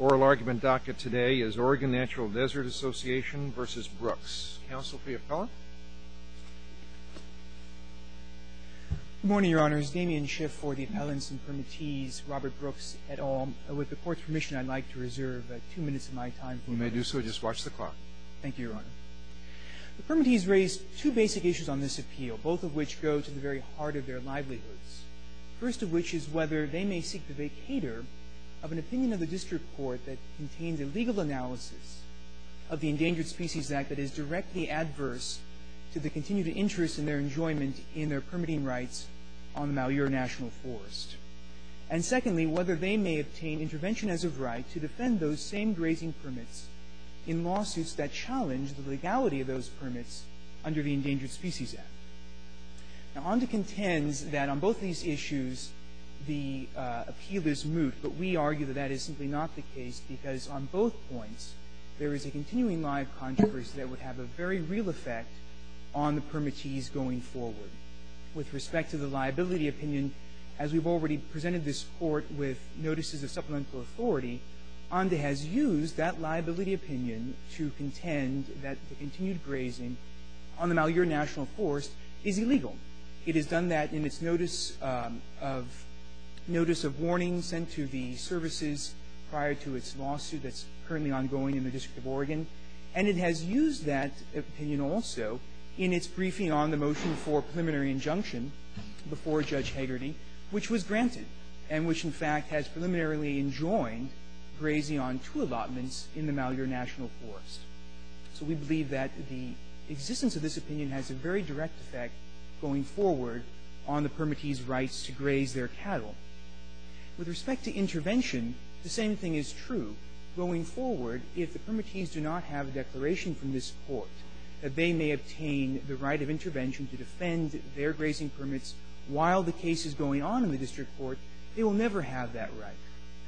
Oral argument docket today is Oregon Natural Desert Association v. Brooks. Counsel for the appellant? Good morning, Your Honor. It's Damian Schiff for the appellants and permittees, Robert Brooks et al. With the court's permission, I'd like to reserve two minutes of my time for my defense. You may do so. Just watch the clock. Thank you, Your Honor. The permittees raise two basic issues on this appeal, both of which go to the very heart of their livelihoods. First of which is whether they may seek the court that contains a legal analysis of the Endangered Species Act that is directly adverse to the continued interest in their enjoyment in their permitting rights on the Malheur National Forest. And secondly, whether they may obtain intervention as of right to defend those same grazing permits in lawsuits that challenge the legality of those permits under the Endangered Species Act. Now, Onda contends that on both these issues the appeal is moot, but we argue that that is simply not the case, because on both points there is a continuing lie of controversy that would have a very real effect on the permittees going forward. With respect to the liability opinion, as we've already presented this Court with notices of supplemental authority, Onda has used that liability opinion to contend that the continued grazing on the Malheur National Forest is illegal. It has done that in its notice of warning sent to the services prior to its lawsuit that's currently ongoing in the District of Oregon. And it has used that opinion also in its briefing on the motion for preliminary injunction before Judge Hagerty, which was granted and which, in fact, has preliminarily enjoined grazing on two allotments in the Malheur National Forest. So we believe that the existence of this opinion has a very direct effect going forward on the permittees' rights to graze their cattle. With respect to intervention, the same thing is true going forward. If the permittees do not have a declaration from this Court that they may obtain the right of intervention to defend their grazing permits while the case is going on in the district court, they will never have that right.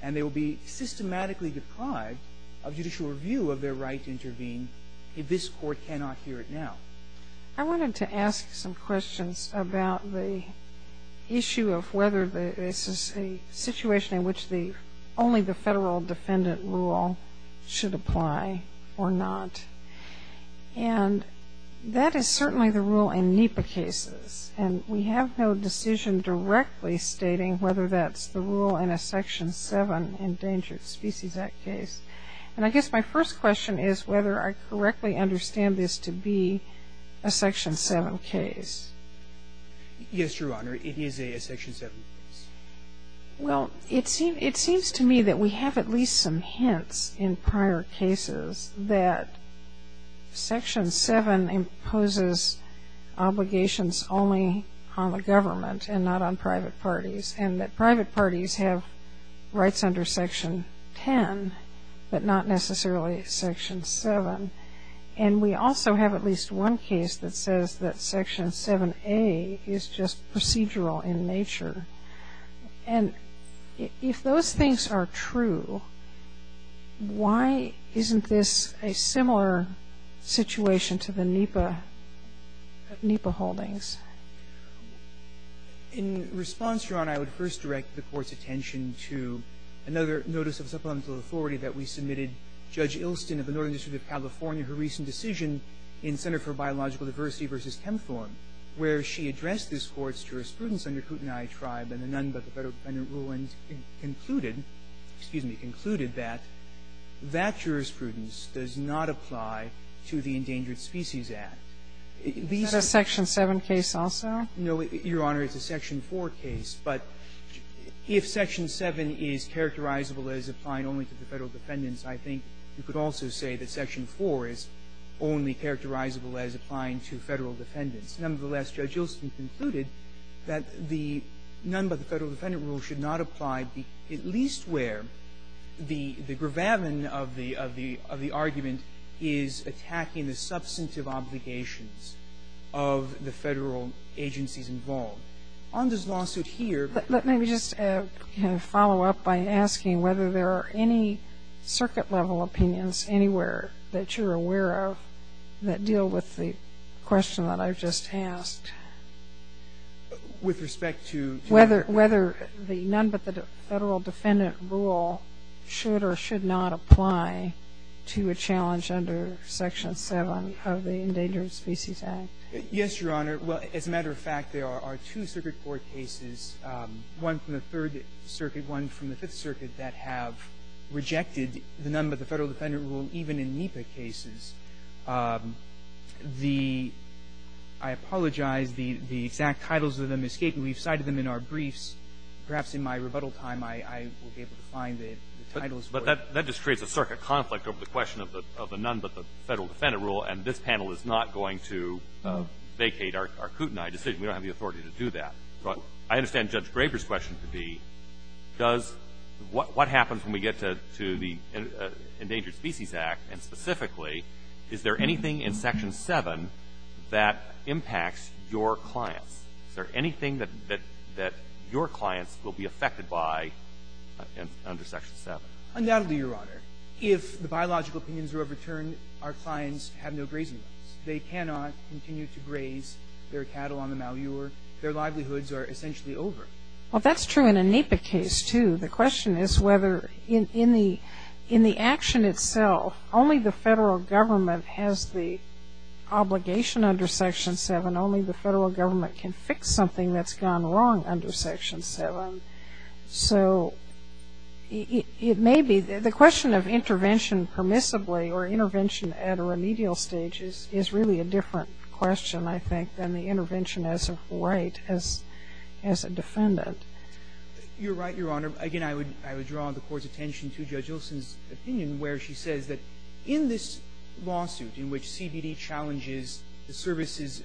And they will be systematically deprived of judicial review of their right to intervene if this Court cannot hear it now. I wanted to ask some questions about the issue of whether this is a situation in which only the federal defendant rule should apply or not. And that is certainly the rule in NEPA cases. And we have no decision directly stating whether that's the rule in a Section 7 Endangered Species Act case. And I guess my first question is whether I correctly understand this to be a Section 7 case. Yes, Your Honor. It is a Section 7 case. Well, it seems to me that we have at least some hints in prior cases that Section 7 imposes obligations only on the government and not on private parties, and that private parties have rights under Section 10, but not necessarily Section 7. And we also have at least one case that says that Section 7a is just procedural in nature. And if those things are true, why isn't this a similar situation to the NEPA holdings? In response, Your Honor, I would first direct the Court's attention to another notice of supplemental authority that we submitted. Judge Ilston of the Northern District of California, her recent decision in Center for Biological Diversity v. Chemthorne, where she addressed this Court's jurisprudence under Kootenai Tribe and the None but the Federal Defendant Rule and concluded — excuse me — concluded that that jurisprudence does not apply to the Endangered No, Your Honor. It's a Section 4 case. But if Section 7 is characterizable as applying only to the Federal defendants, I think you could also say that Section 4 is only characterizable as applying to Federal defendants. Nonetheless, Judge Ilston concluded that the None but the Federal Defendant Rule should not apply, at least where the gravamen of the argument is attacking the substantive obligations of the Federal agencies involved. On this lawsuit here — Let me just kind of follow up by asking whether there are any circuit-level opinions anywhere that you're aware of that deal with the question that I've just asked. With respect to — Whether the None but the Federal Defendant Rule should or should not apply to a challenge under Section 7 of the Endangered Species Act. Yes, Your Honor. Well, as a matter of fact, there are two circuit court cases, one from the Third Circuit, one from the Fifth Circuit, that have rejected the None but the Federal Defendant Rule, even in NEPA cases. The — I apologize. The exact titles of them escape me. We've cited them in our briefs. Perhaps in my rebuttal time, I will be able to find the titles. But that just creates a circuit conflict over the question of the None but the Federal Defendant Rule, and this panel is not going to vacate our Kootenai decision. We don't have the authority to do that. But I understand Judge Graber's question to be, does — what happens when we get to the Endangered Species Act, and specifically, is there anything in Section 7 that impacts your clients? Is there anything that your clients will be affected by under Section 7? Undoubtedly, Your Honor. If the biological opinions are overturned, our clients have no grazing rights. They cannot continue to graze their cattle on the Malheur. Their livelihoods are essentially over. Well, that's true in a NEPA case, too. The question is whether — in the — in the action itself, only the Federal Government has the obligation under Section 7. Only the Federal Government can fix something that's gone wrong under Section 7. So it may be — the question of intervention permissibly or intervention at a remedial stage is really a different question, I think, than the intervention as of right, as — as a defendant. You're right, Your Honor. Again, I would — I would draw the Court's attention to Judge Olson's opinion, where she says that in this lawsuit in which CBD challenges the service's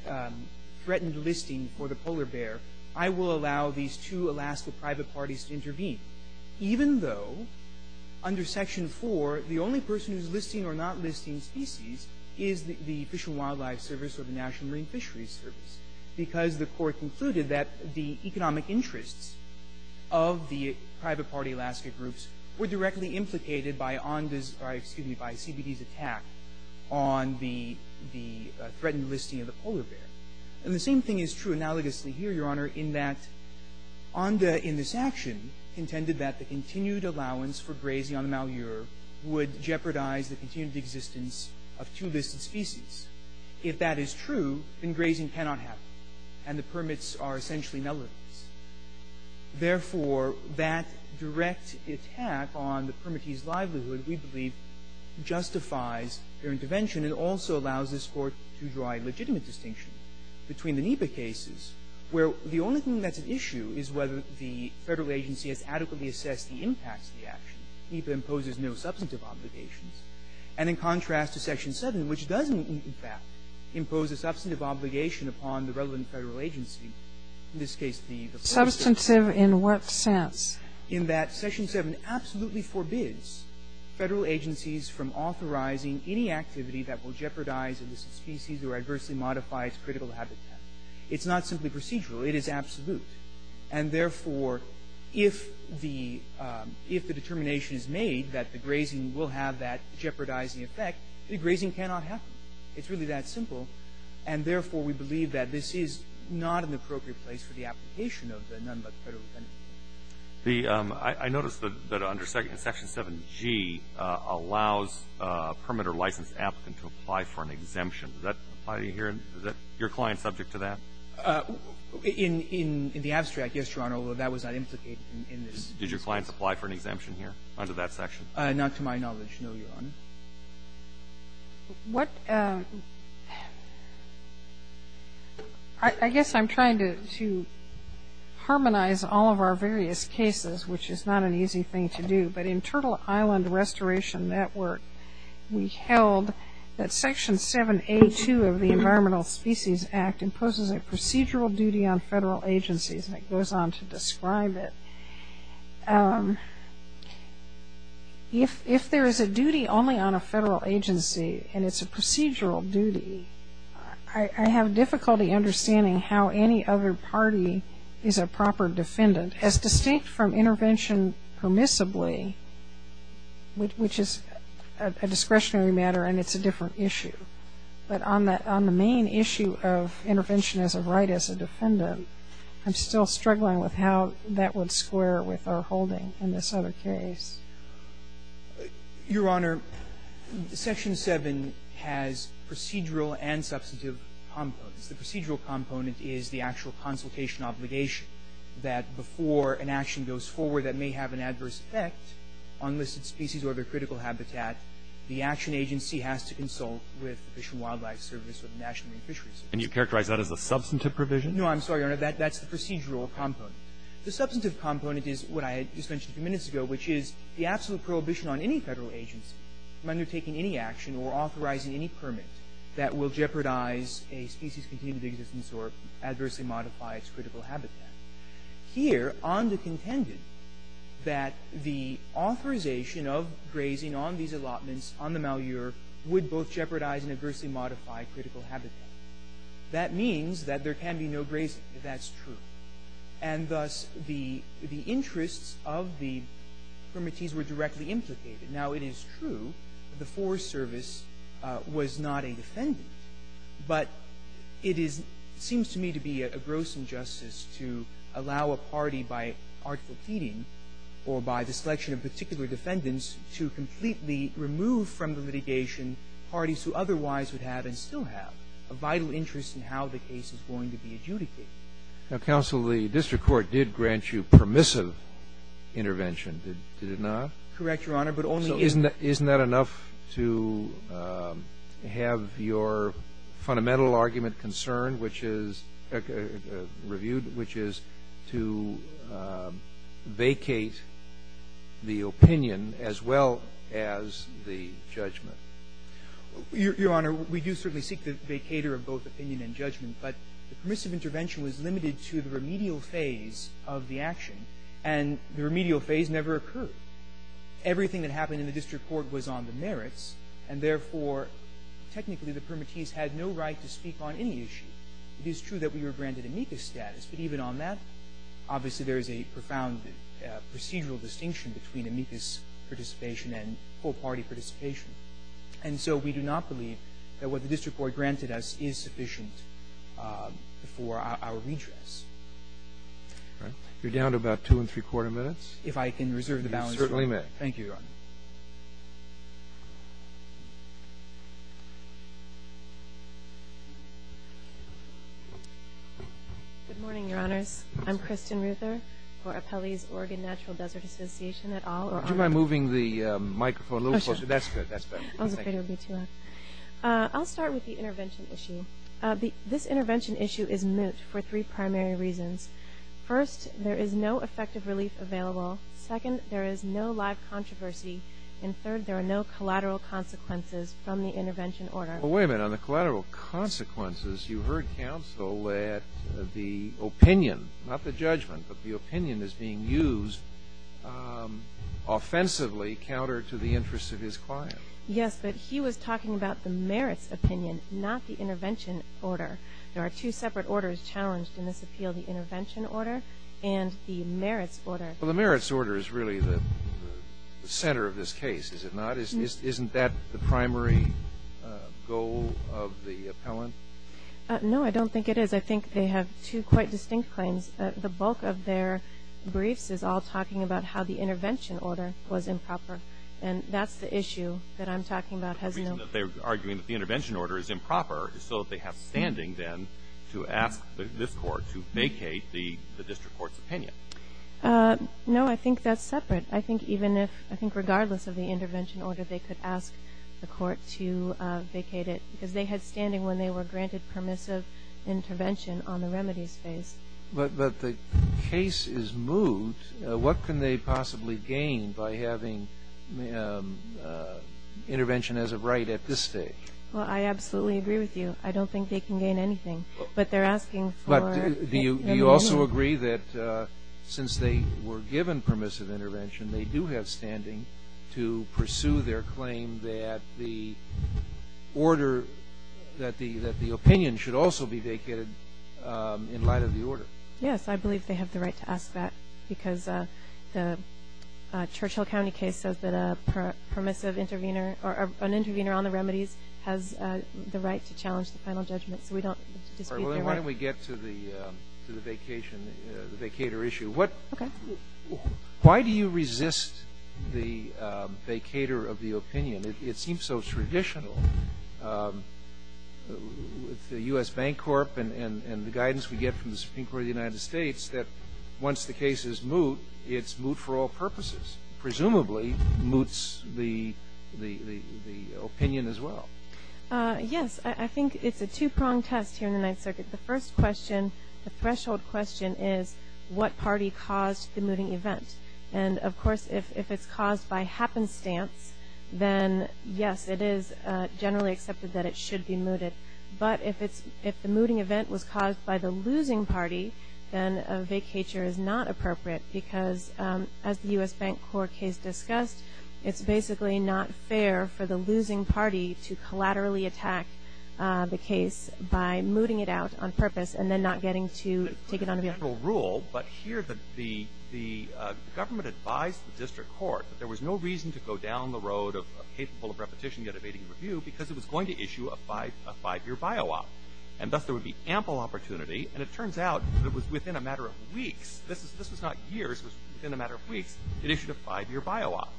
threatened listing for the polar bear, I will allow these two Alaska private parties to intervene, even though under Section 4, the only person who's listing or not listing species is the Fish and Wildlife Service or the National Marine Fisheries Service, because the Court concluded that the economic interests of the private party Alaska groups were directly implicated by ONDA's — or, excuse me, by CBD's attack on the — the threatened listing of the polar bear. And the same thing is true analogously here, Your Honor, in that ONDA in this action intended that the continued allowance for grazing on the Malheur would jeopardize the continued existence of two listed species. If that is true, then grazing cannot happen, and the permits are essentially null and void. Therefore, that direct attack on the permittees' livelihood, we believe, justifies their intervention and also allows this Court to draw a legitimate distinction between the NEPA cases, where the only thing that's at issue is whether the Federal agency has adequately assessed the impacts of the action. NEPA imposes no substantive obligations. And in contrast to Section 7, which doesn't, in fact, impose a substantive obligation upon the relevant Federal agency, in this case, the — Substantive in what sense? In that Section 7 absolutely forbids Federal agencies from authorizing any activity that will jeopardize a listed species or adversely modify its critical habitat. It's not simply procedural. It is absolute. And therefore, if the — if the determination is made that the grazing will have that jeopardizing effect, the grazing cannot happen. It's really that simple. And therefore, we believe that this is not an appropriate place for the The — I noticed that under Section 7g allows a permit or license applicant to apply for an exemption. Does that apply here? Is that your client subject to that? In the abstract, yes, Your Honor, although that was not implicated in this case. Did your client apply for an exemption here under that section? Not to my knowledge, no, Your Honor. What — I guess I'm trying to harmonize all of our various views on this. cases, which is not an easy thing to do. But in Turtle Island Restoration Network, we held that Section 7a2 of the Environmental Species Act imposes a procedural duty on federal agencies. And it goes on to describe it. If there is a duty only on a federal agency and it's a procedural duty, I have difficulty understanding how any other party is a proper defendant, as distinct from intervention permissibly, which is a discretionary matter and it's a different issue. But on the main issue of intervention as a right as a defendant, I'm still struggling with how that would square with our holding in this other case. Your Honor, Section 7 has procedural and substantive components. The procedural component is the actual consultation obligation that before an action goes forward that may have an adverse effect on listed species or other critical habitat, the action agency has to consult with Fish and Wildlife Service or the National Marine Fisheries Service. And you characterize that as a substantive provision? No, I'm sorry, Your Honor. That's the procedural component. The substantive component is what I just mentioned a few minutes ago, which is the absolute prohibition on any federal agency from undertaking any action or authorizing any permit that will jeopardize a species' continued existence or adversely modify its critical habitat. Here, Onda contended that the authorization of grazing on these allotments on the Malheur would both jeopardize and adversely modify critical habitat. That means that there can be no grazing. That's true. And thus, the interests of the permittees were directly implicated. Now, it is true the Forest Service was not a defendant, but it seems to me to be a gross injustice to allow a party by artful feeding or by the selection of particular defendants to completely remove from the litigation parties who otherwise would have and still have a vital interest in how the case is going to be adjudicated. Now, Counsel, the district court did grant you permissive intervention, did it not? Correct, Your Honor, but only in the So isn't that enough to have your fundamental argument reviewed, which is to vacate the opinion as well as the judgment? Your Honor, we do certainly seek the vacator of both opinion and judgment, but the permissive intervention was limited to the remedial phase of the action, and the remedial phase never occurred. Everything that happened in the district court was on the merits, and therefore, technically, the permittees had no right to speak on any issue. It is true that we were granted amicus status, but even on that, obviously, there is a profound procedural distinction between amicus participation and whole-party participation. And so we do not believe that what the district court granted us is sufficient for our redress. You're down to about two-and-three-quarter minutes. If I can reserve the balance for a moment. You certainly may. Thank you, Your Honor. Good morning, Your Honors. I'm Kristen Ruther for Apelli's Oregon Natural Desert Association at all. Would you mind moving the microphone a little closer? That's good. That's better. I was afraid it would be too loud. I'll start with the intervention issue. This intervention issue is moot for three primary reasons. First, there is no effective relief available. Second, there is no live controversy. And third, there are no collateral consequences from the intervention order. Well, wait a minute. On the collateral consequences, you heard counsel that the opinion, not the judgment, but the opinion is being used offensively counter to the interests of his client. Yes, but he was talking about the merits opinion, not the intervention order. There are two separate orders challenged in this appeal, the intervention order and the merits order. Well, the merits order is really the center of this case, is it not? Isn't that the primary goal of the appellant? No, I don't think it is. I think they have two quite distinct claims. The bulk of their briefs is all talking about how the intervention order was improper. And that's the issue that I'm talking about. The reason that they're arguing that the intervention order is improper is so that they have standing then to ask this court to vacate the district court's opinion. No, I think that's separate. I think even if, I think regardless of the intervention order, they could ask the court to vacate it. Because they had standing when they were granted permissive intervention on the remedies phase. But the case is moved. What can they possibly gain by having intervention as a right at this stage? Well, I absolutely agree with you. I don't think they can gain anything. But they're asking for remedies. But do you also agree that since they were given permissive intervention, they do have standing to pursue their claim that the order, that the opinion should also be vacated in light of the order? Yes, I believe they have the right to ask that. Because the Churchill County case says that a permissive intervener, or an intervener on the remedies has the right to challenge the final judgment. So we don't dispute their right. Why don't we get to the vacation, the vacator issue. Okay. Why do you resist the vacator of the opinion? It seems so traditional with the U.S. Bank Corp. and the guidance we get from the Supreme Court of the United States that once the case is moot, it's moot for all purposes. Presumably, moots the opinion as well. Yes, I think it's a two-pronged test here in the Ninth Circuit. The first question, the threshold question, is what party caused the mooting event? And of course, if it's caused by happenstance, then yes, it is generally accepted that it should be mooted. But if the mooting event was caused by the losing party, then a vacator is not appropriate. Because as the U.S. Bank Corp. case discussed, it's basically not fair for the losing party to collaterally attack the case by mooting it out on purpose, and then not getting to take it on the bill. But here, the government advised the district court that there was no reason to go down the road of capable of repetition yet evading review because it was going to issue a five-year bio-op. And thus, there would be ample opportunity. And it turns out that it was within a matter of weeks, this was not years, it was within a matter of weeks, it issued a five-year bio-op.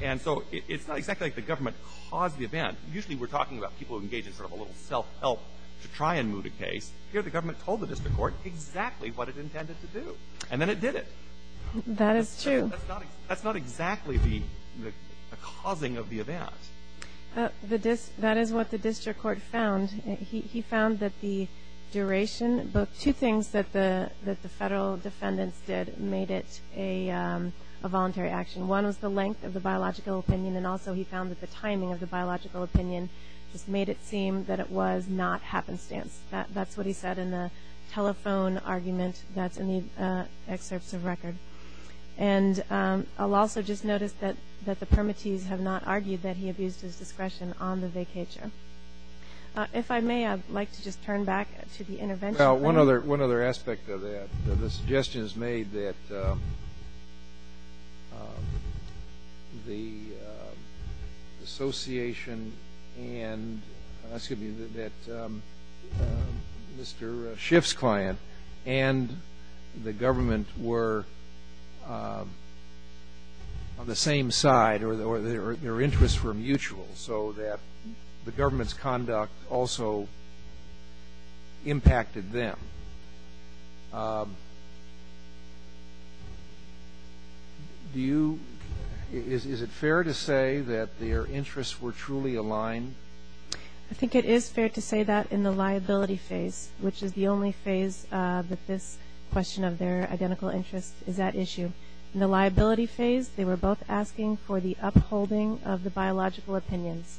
And so, it's not exactly like the government caused the event. Usually, we're talking about people who engage in sort of a little self-help to try and moot a case. Here, the government told the district court exactly what it intended to do, and then it did it. That is true. That's not exactly the causing of the event. That is what the district court found. He found that the duration, two things that the federal defendants did made it a voluntary action. One was the length of the biological opinion, and also he found that the timing of the biological opinion just made it seem that it was not happenstance. That's what he said in the telephone argument that's in the excerpts of record. And I'll also just notice that the permittees have not argued that he abused his discretion on the vacatur. If I may, I'd like to just turn back to the intervention. Well, one other aspect of that, the suggestions made that the association and, excuse me, that Mr. Schiff's client and the government were on the same side or their interests were mutual so that the government's conduct also impacted them. Do you, is it fair to say that their interests were truly aligned? I think it is fair to say that in the liability phase, which is the only phase that this question of their identical interests is at issue. In the liability phase, they were both asking for the upholding of the biological opinions.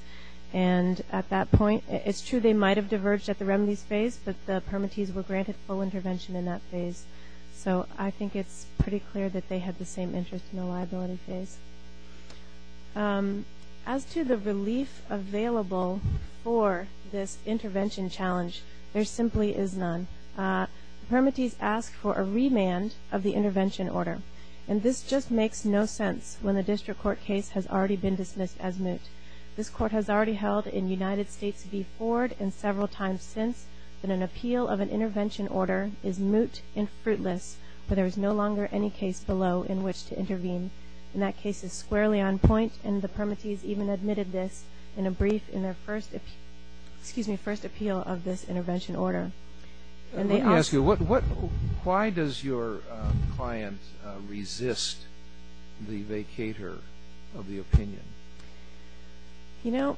And at that point, it's true they might have diverged at the remedies phase, but the permittees were granted full intervention in that phase. So I think it's pretty clear that they had the same interest in the liability phase. As to the relief available for this intervention challenge, there simply is none. Permittees ask for a remand of the intervention order. And this just makes no sense when the district court case has already been dismissed as moot. This court has already held in United States v. Ford and several times since that an appeal of an intervention order is moot and fruitless, where there is no longer any case below in which to intervene. And that case is squarely on point, and the permittees even admitted this in a brief in their first appeal of this intervention order. And they also... Let me ask you, why does your client resist the vacator of the opinion? You know,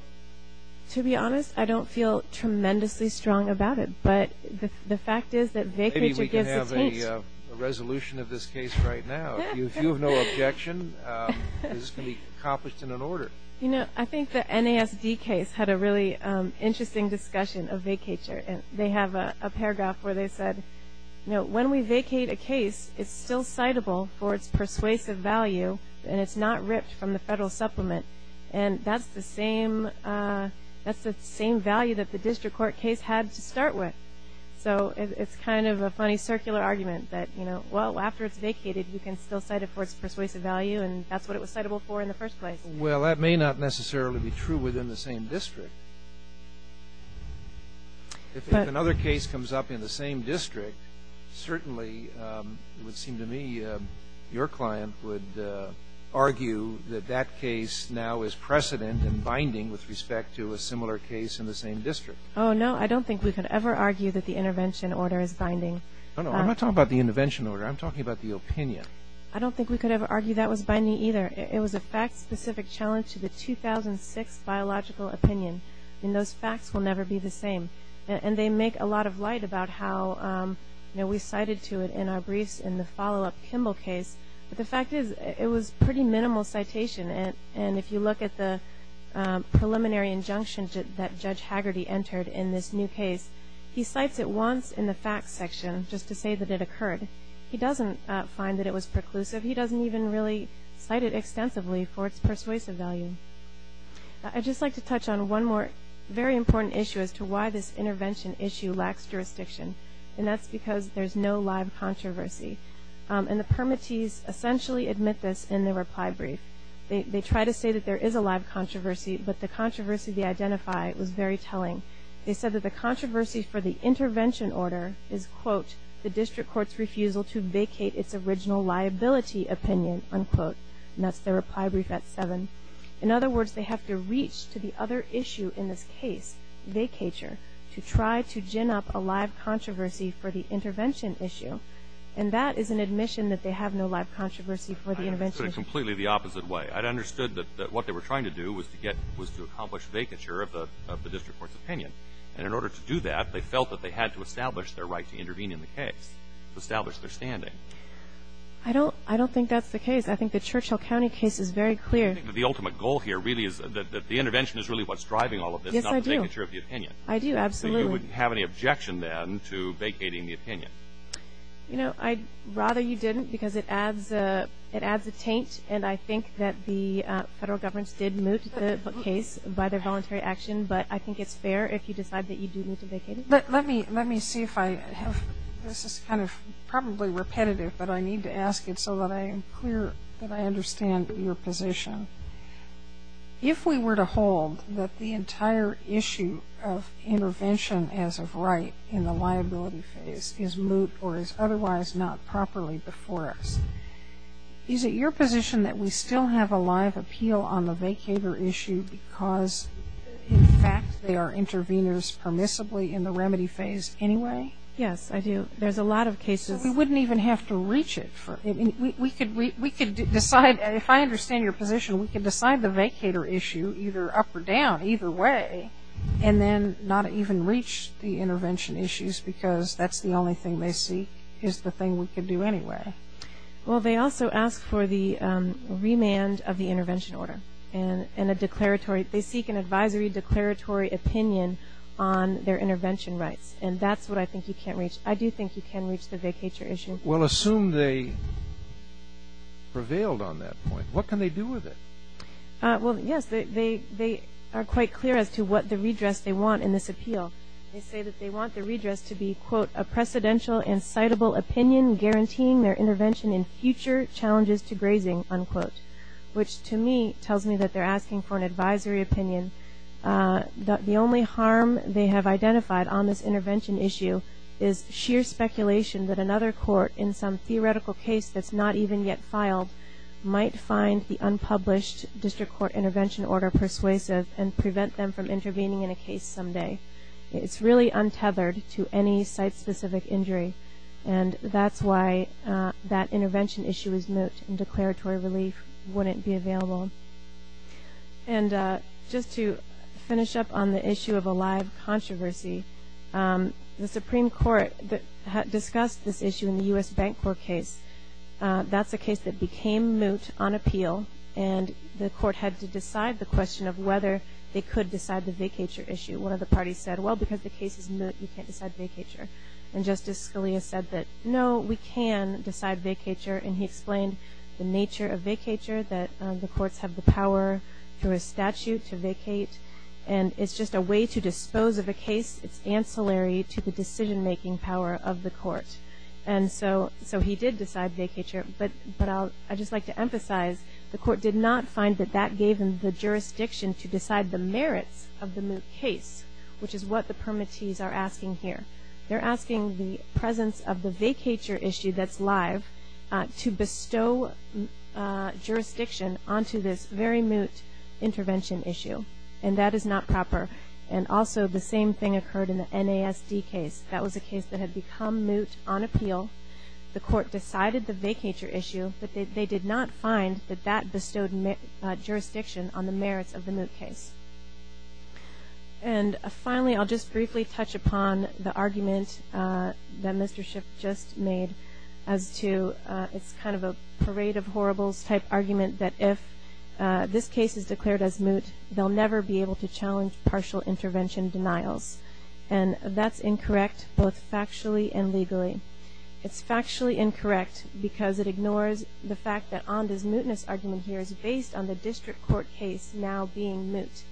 to be honest, I don't feel tremendously strong about it. But the fact is that vacator gives a taste. Maybe we can have a resolution of this case right now. If you have no objection, this can be accomplished in an order. You know, I think the NASD case had a really interesting discussion of vacator. And they have a paragraph where they said, you know, when we vacate a case, it's still citable for its persuasive value, and it's not ripped from the federal supplement. And that's the same value that the district court case had to start with. So it's kind of a funny circular argument that, you know, well, after it's vacated, you can still cite it for its persuasive value. And that's what it was citable for in the first place. Well, that may not necessarily be true within the same district. If another case comes up in the same district, certainly, it would seem to me, your client would argue that that case now is precedent and binding with respect to a similar case in the same district. Oh, no, I don't think we could ever argue that the intervention order is binding. No, no, I'm not talking about the intervention order. I'm talking about the opinion. I don't think we could ever argue that was binding either. It was a fact-specific challenge to the 2006 biological opinion. And those facts will never be the same. And they make a lot of light about how, you know, we cited to it in our briefs in the follow-up Kimball case, but the fact is, it was pretty minimal citation. And if you look at the preliminary injunction that Judge Haggerty entered in this new case, he cites it once in the facts section just to say that it occurred. He doesn't find that it was preclusive. He doesn't even really cite it extensively for its persuasive value. I'd just like to touch on one more very important issue as to why this intervention issue lacks jurisdiction. And that's because there's no live controversy. And the permittees essentially admit this in the reply brief. They try to say that there is a live controversy, but the controversy they identify was very telling. They said that the controversy for the intervention order is, quote, the district court's refusal to vacate its original liability opinion, unquote. And that's their reply brief at 7. In other words, they have to reach to the other issue in this case, vacature, to try to gin up a live controversy for the intervention issue. And that is an admission that they have no live controversy for the intervention. It's completely the opposite way. I'd understood that what they were trying to do was to get, was to accomplish vacature of the district court's opinion. And in order to do that, they felt that they had to establish their right to intervene in the case, to establish their standing. I don't, I don't think that's the case. I think the Churchill County case is very clear. I think that the ultimate goal here really is that, that the intervention is really what's driving all of this, not the vacature of the opinion. I do, absolutely. So you wouldn't have any objection then to vacating the opinion? You know, I'd rather you didn't because it adds a, it adds a taint. And I think that the federal governments did move the case by their voluntary action. But I think it's fair if you decide that you do need to vacate it. Let, let me, let me see if I have, this is kind of probably repetitive, but I need to ask it so that I am clear that I understand your position. If we were to hold that the entire issue of intervention as of right in the liability phase is moot or is otherwise not properly before us, is it your position that we still have a live appeal on the vacature issue because in fact they are intervenors permissibly in the remedy phase anyway? Yes, I do. There's a lot of cases. We wouldn't even have to reach it for, we could, we could decide, if I understand your position, we could decide the vacature issue either up or down, either way, and then not even reach the intervention issues because that's the only thing they see is the thing we could do anyway. Well, they also ask for the remand of the intervention order and a declaratory, they seek an advisory declaratory opinion on their intervention rights, and that's what I think you can't reach. I do think you can reach the vacature issue. Well, assume they prevailed on that point. What can they do with it? Well, yes, they, they, they are quite clear as to what the redress they want in this appeal. They say that they want the redress to be, quote, a precedential and citable opinion guaranteeing their intervention in future challenges to grazing, unquote, which to me tells me that they're asking for an advisory opinion. The only harm they have identified on this intervention issue is sheer speculation that another court in some theoretical case that's not even yet filed might find the unpublished district court intervention order persuasive and prevent them from intervening in a case someday. It's really untethered to any site-specific injury, and that's why that intervention issue is moot and declaratory relief wouldn't be available. And just to finish up on the issue of a live controversy, the Supreme Court discussed this issue in the U.S. Bank Corp case. That's a case that became moot on appeal, and the court had to decide the question of whether they could decide the vacature issue. One of the parties said, well, because the case is moot, you can't decide vacature. And Justice Scalia said that, no, we can decide vacature, and he explained the nature of vacature, that the courts have the power through a statute to vacate, and it's just a way to dispose of a case. It's ancillary to the decision-making power of the court. And so he did decide vacature, but I'd just like to emphasize the court did not find that that gave them the jurisdiction to decide the merits of the moot case, which is what the permittees are asking here. They're asking the presence of the vacature issue that's live to bestow jurisdiction onto this very moot intervention issue, and that is not proper. And also the same thing occurred in the NASD case. That was a case that had become moot on appeal. The court decided the vacature issue, but they did not find that that bestowed jurisdiction on the merits of the moot case. And finally, I'll just briefly touch upon the argument that Mr. Schiff just made as to, it's kind of a parade of horribles type argument that if this case is declared as moot, they'll never be able to challenge partial intervention denials. And that's incorrect, both factually and legally. It's factually incorrect because it ignores the fact that Onda's mootness argument here is based on the district court case now being moot.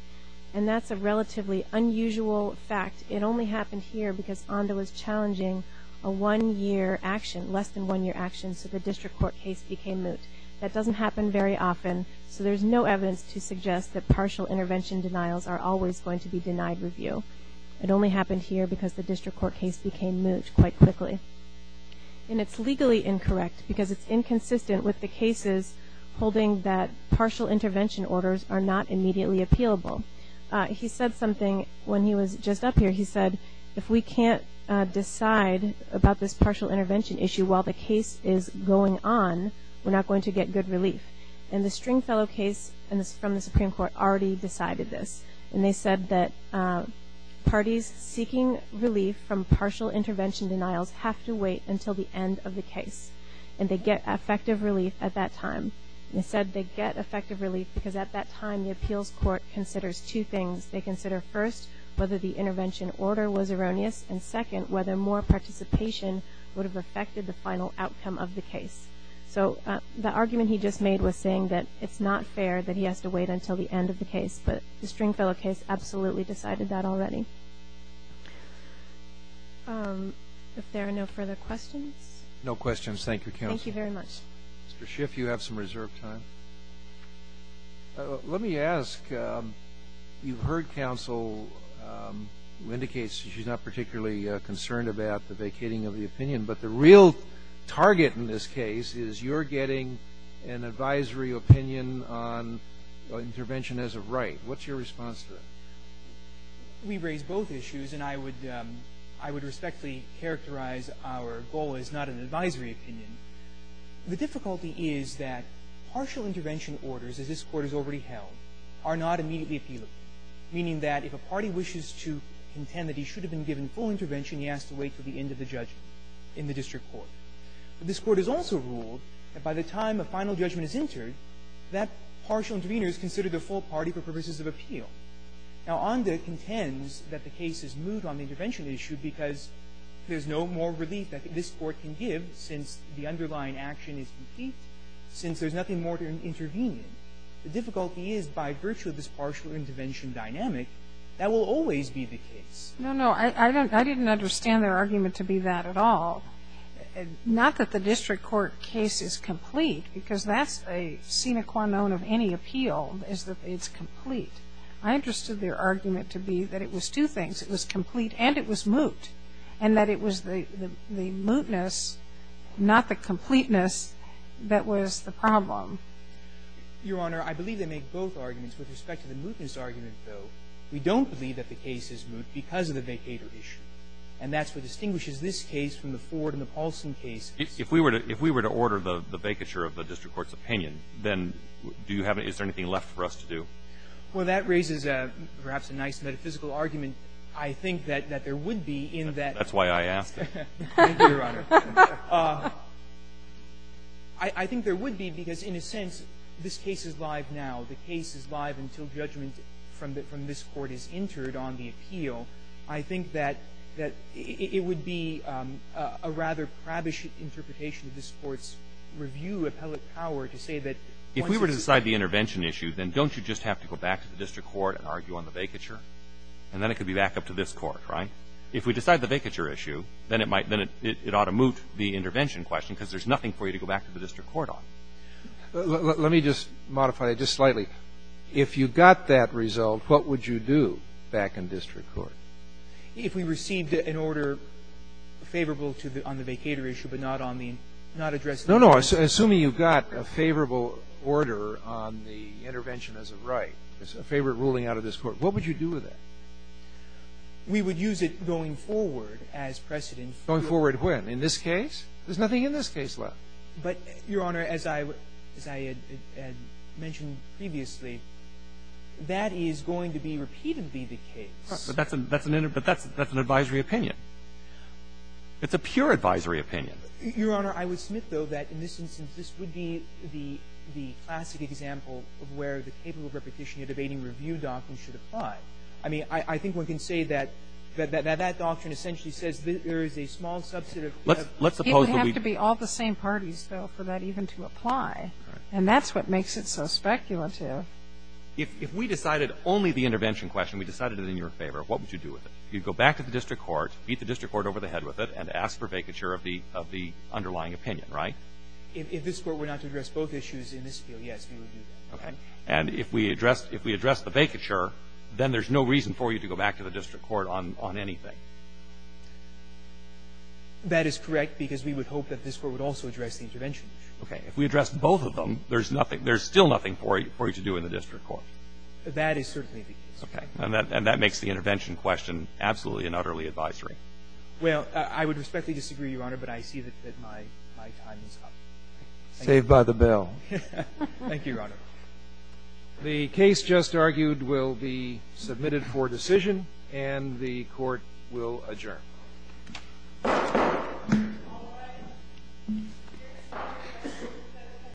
And that's a relatively unusual fact. It only happened here because Onda was challenging a one-year action, less than one-year action, so the district court case became moot. That doesn't happen very often, so there's no evidence to suggest that partial intervention denials are always going to be denied review. It only happened here because the district court case became moot quite quickly. And it's legally incorrect because it's inconsistent with the cases holding that partial intervention orders are not immediately appealable. He said something when he was just up here. He said, if we can't decide about this partial intervention issue while the case is going on, we're not going to get good relief. And the Stringfellow case from the Supreme Court already decided this. And they said that parties seeking relief from partial intervention denials have to wait until the end of the case. And they get effective relief at that time. They said they get effective relief because at that time, the appeals court considers two things. They consider, first, whether the intervention order was erroneous, and second, whether more participation would have affected the final outcome of the case. So the argument he just made was saying that it's not fair that he has to wait until the end of the case, but the Stringfellow case absolutely decided that already. If there are no further questions. No questions. Thank you, counsel. Thank you very much. Mr. Schiff, you have some reserved time. Let me ask, you've heard counsel who indicates she's not particularly concerned about the vacating of the opinion, but the real target in this case is you're getting an advisory opinion on intervention as of right. What's your response to that? We raise both issues, and I would respectfully characterize our goal as not an advisory opinion. The difficulty is that partial intervention orders, as this court has already held, are not immediately appealable, meaning that if a party wishes to contend that he should have been given full intervention, he has to wait until the end of the judgment in the district court. This court has also ruled that by the time a final judgment is entered, that partial intervener is considered the full party for purposes of appeal. Now, Onda contends that the case is moved on the intervention issue because there's no more relief that this court can give since the underlying action is complete, since there's nothing more to intervene in. The difficulty is by virtue of this partial intervention dynamic, that will always be the case. No, no. I didn't understand their argument to be that at all, not that the district court case is complete because that's a sine qua non of any appeal is that it's complete. I understood their argument to be that it was two things. It was complete and it was moot, and that it was the mootness, not the completeness, that was the problem. Your Honor, I believe they make both arguments. With respect to the mootness argument, though, we don't believe that the case is moot because of the vacator issue. And that's what distinguishes this case from the Ford and the Paulson case. If we were to order the vacature of the district court's opinion, then do you have any – is there anything left for us to do? Well, that raises perhaps a nice metaphysical argument. I think that there would be in that – That's why I asked. Thank you, Your Honor. I think there would be because in a sense, this case is live now. The case is live until judgment from this Court is entered on the appeal. I think that it would be a rather crabbish interpretation of this Court's review of appellate power to say that – If we were to decide the intervention issue, then don't you just have to go back to the district court and argue on the vacature? And then it could be back up to this Court, right? If we decide the vacature issue, then it might – then it ought to moot the intervention question because there's nothing for you to go back to the district court on. Let me just modify it just slightly. If you got that result, what would you do back in district court? If we received an order favorable to the – on the vacator issue but not on the – not address the – No, no. Assuming you got a favorable order on the intervention as a right, as a favorite ruling out of this Court, what would you do with it? We would use it going forward as precedent for – Going forward when? In this case? There's nothing in this case left. But, Your Honor, as I – as I had mentioned previously, that is going to be repeatedly the case. But that's an – that's an – but that's an advisory opinion. It's a pure advisory opinion. Your Honor, I would submit, though, that in this instance, this would be the – the classic example of where the capable repetition of the Bating Review doctrine should apply. I mean, I think one can say that – that that doctrine essentially says there is a small subset of – Let's – let's suppose that we – It would have to be all the same parties, though, for that even to apply. Right. And that's what makes it so speculative. If – if we decided only the intervention question, we decided it in your favor, what would you do with it? You'd go back to the district court, beat the district court over the head with it, and ask for vacature of the – of the underlying opinion, right? If this Court were not to address both issues in this field, yes, we would do that. Okay. And if we addressed – if we addressed the vacature, then there's no reason for you to go back to the district court on – on anything. That is correct, because we would hope that this Court would also address the intervention issue. Okay. If we addressed both of them, there's nothing – there's still nothing for you – for you to do in the district court. That is certainly the case. Okay. And that – and that makes the intervention question absolutely and utterly advisory. Well, I would respectfully disagree, Your Honor, but I see that my – my time is up. Saved by the bell. Thank you, Your Honor. The case just argued will be submitted for decision, and the Court will adjourn.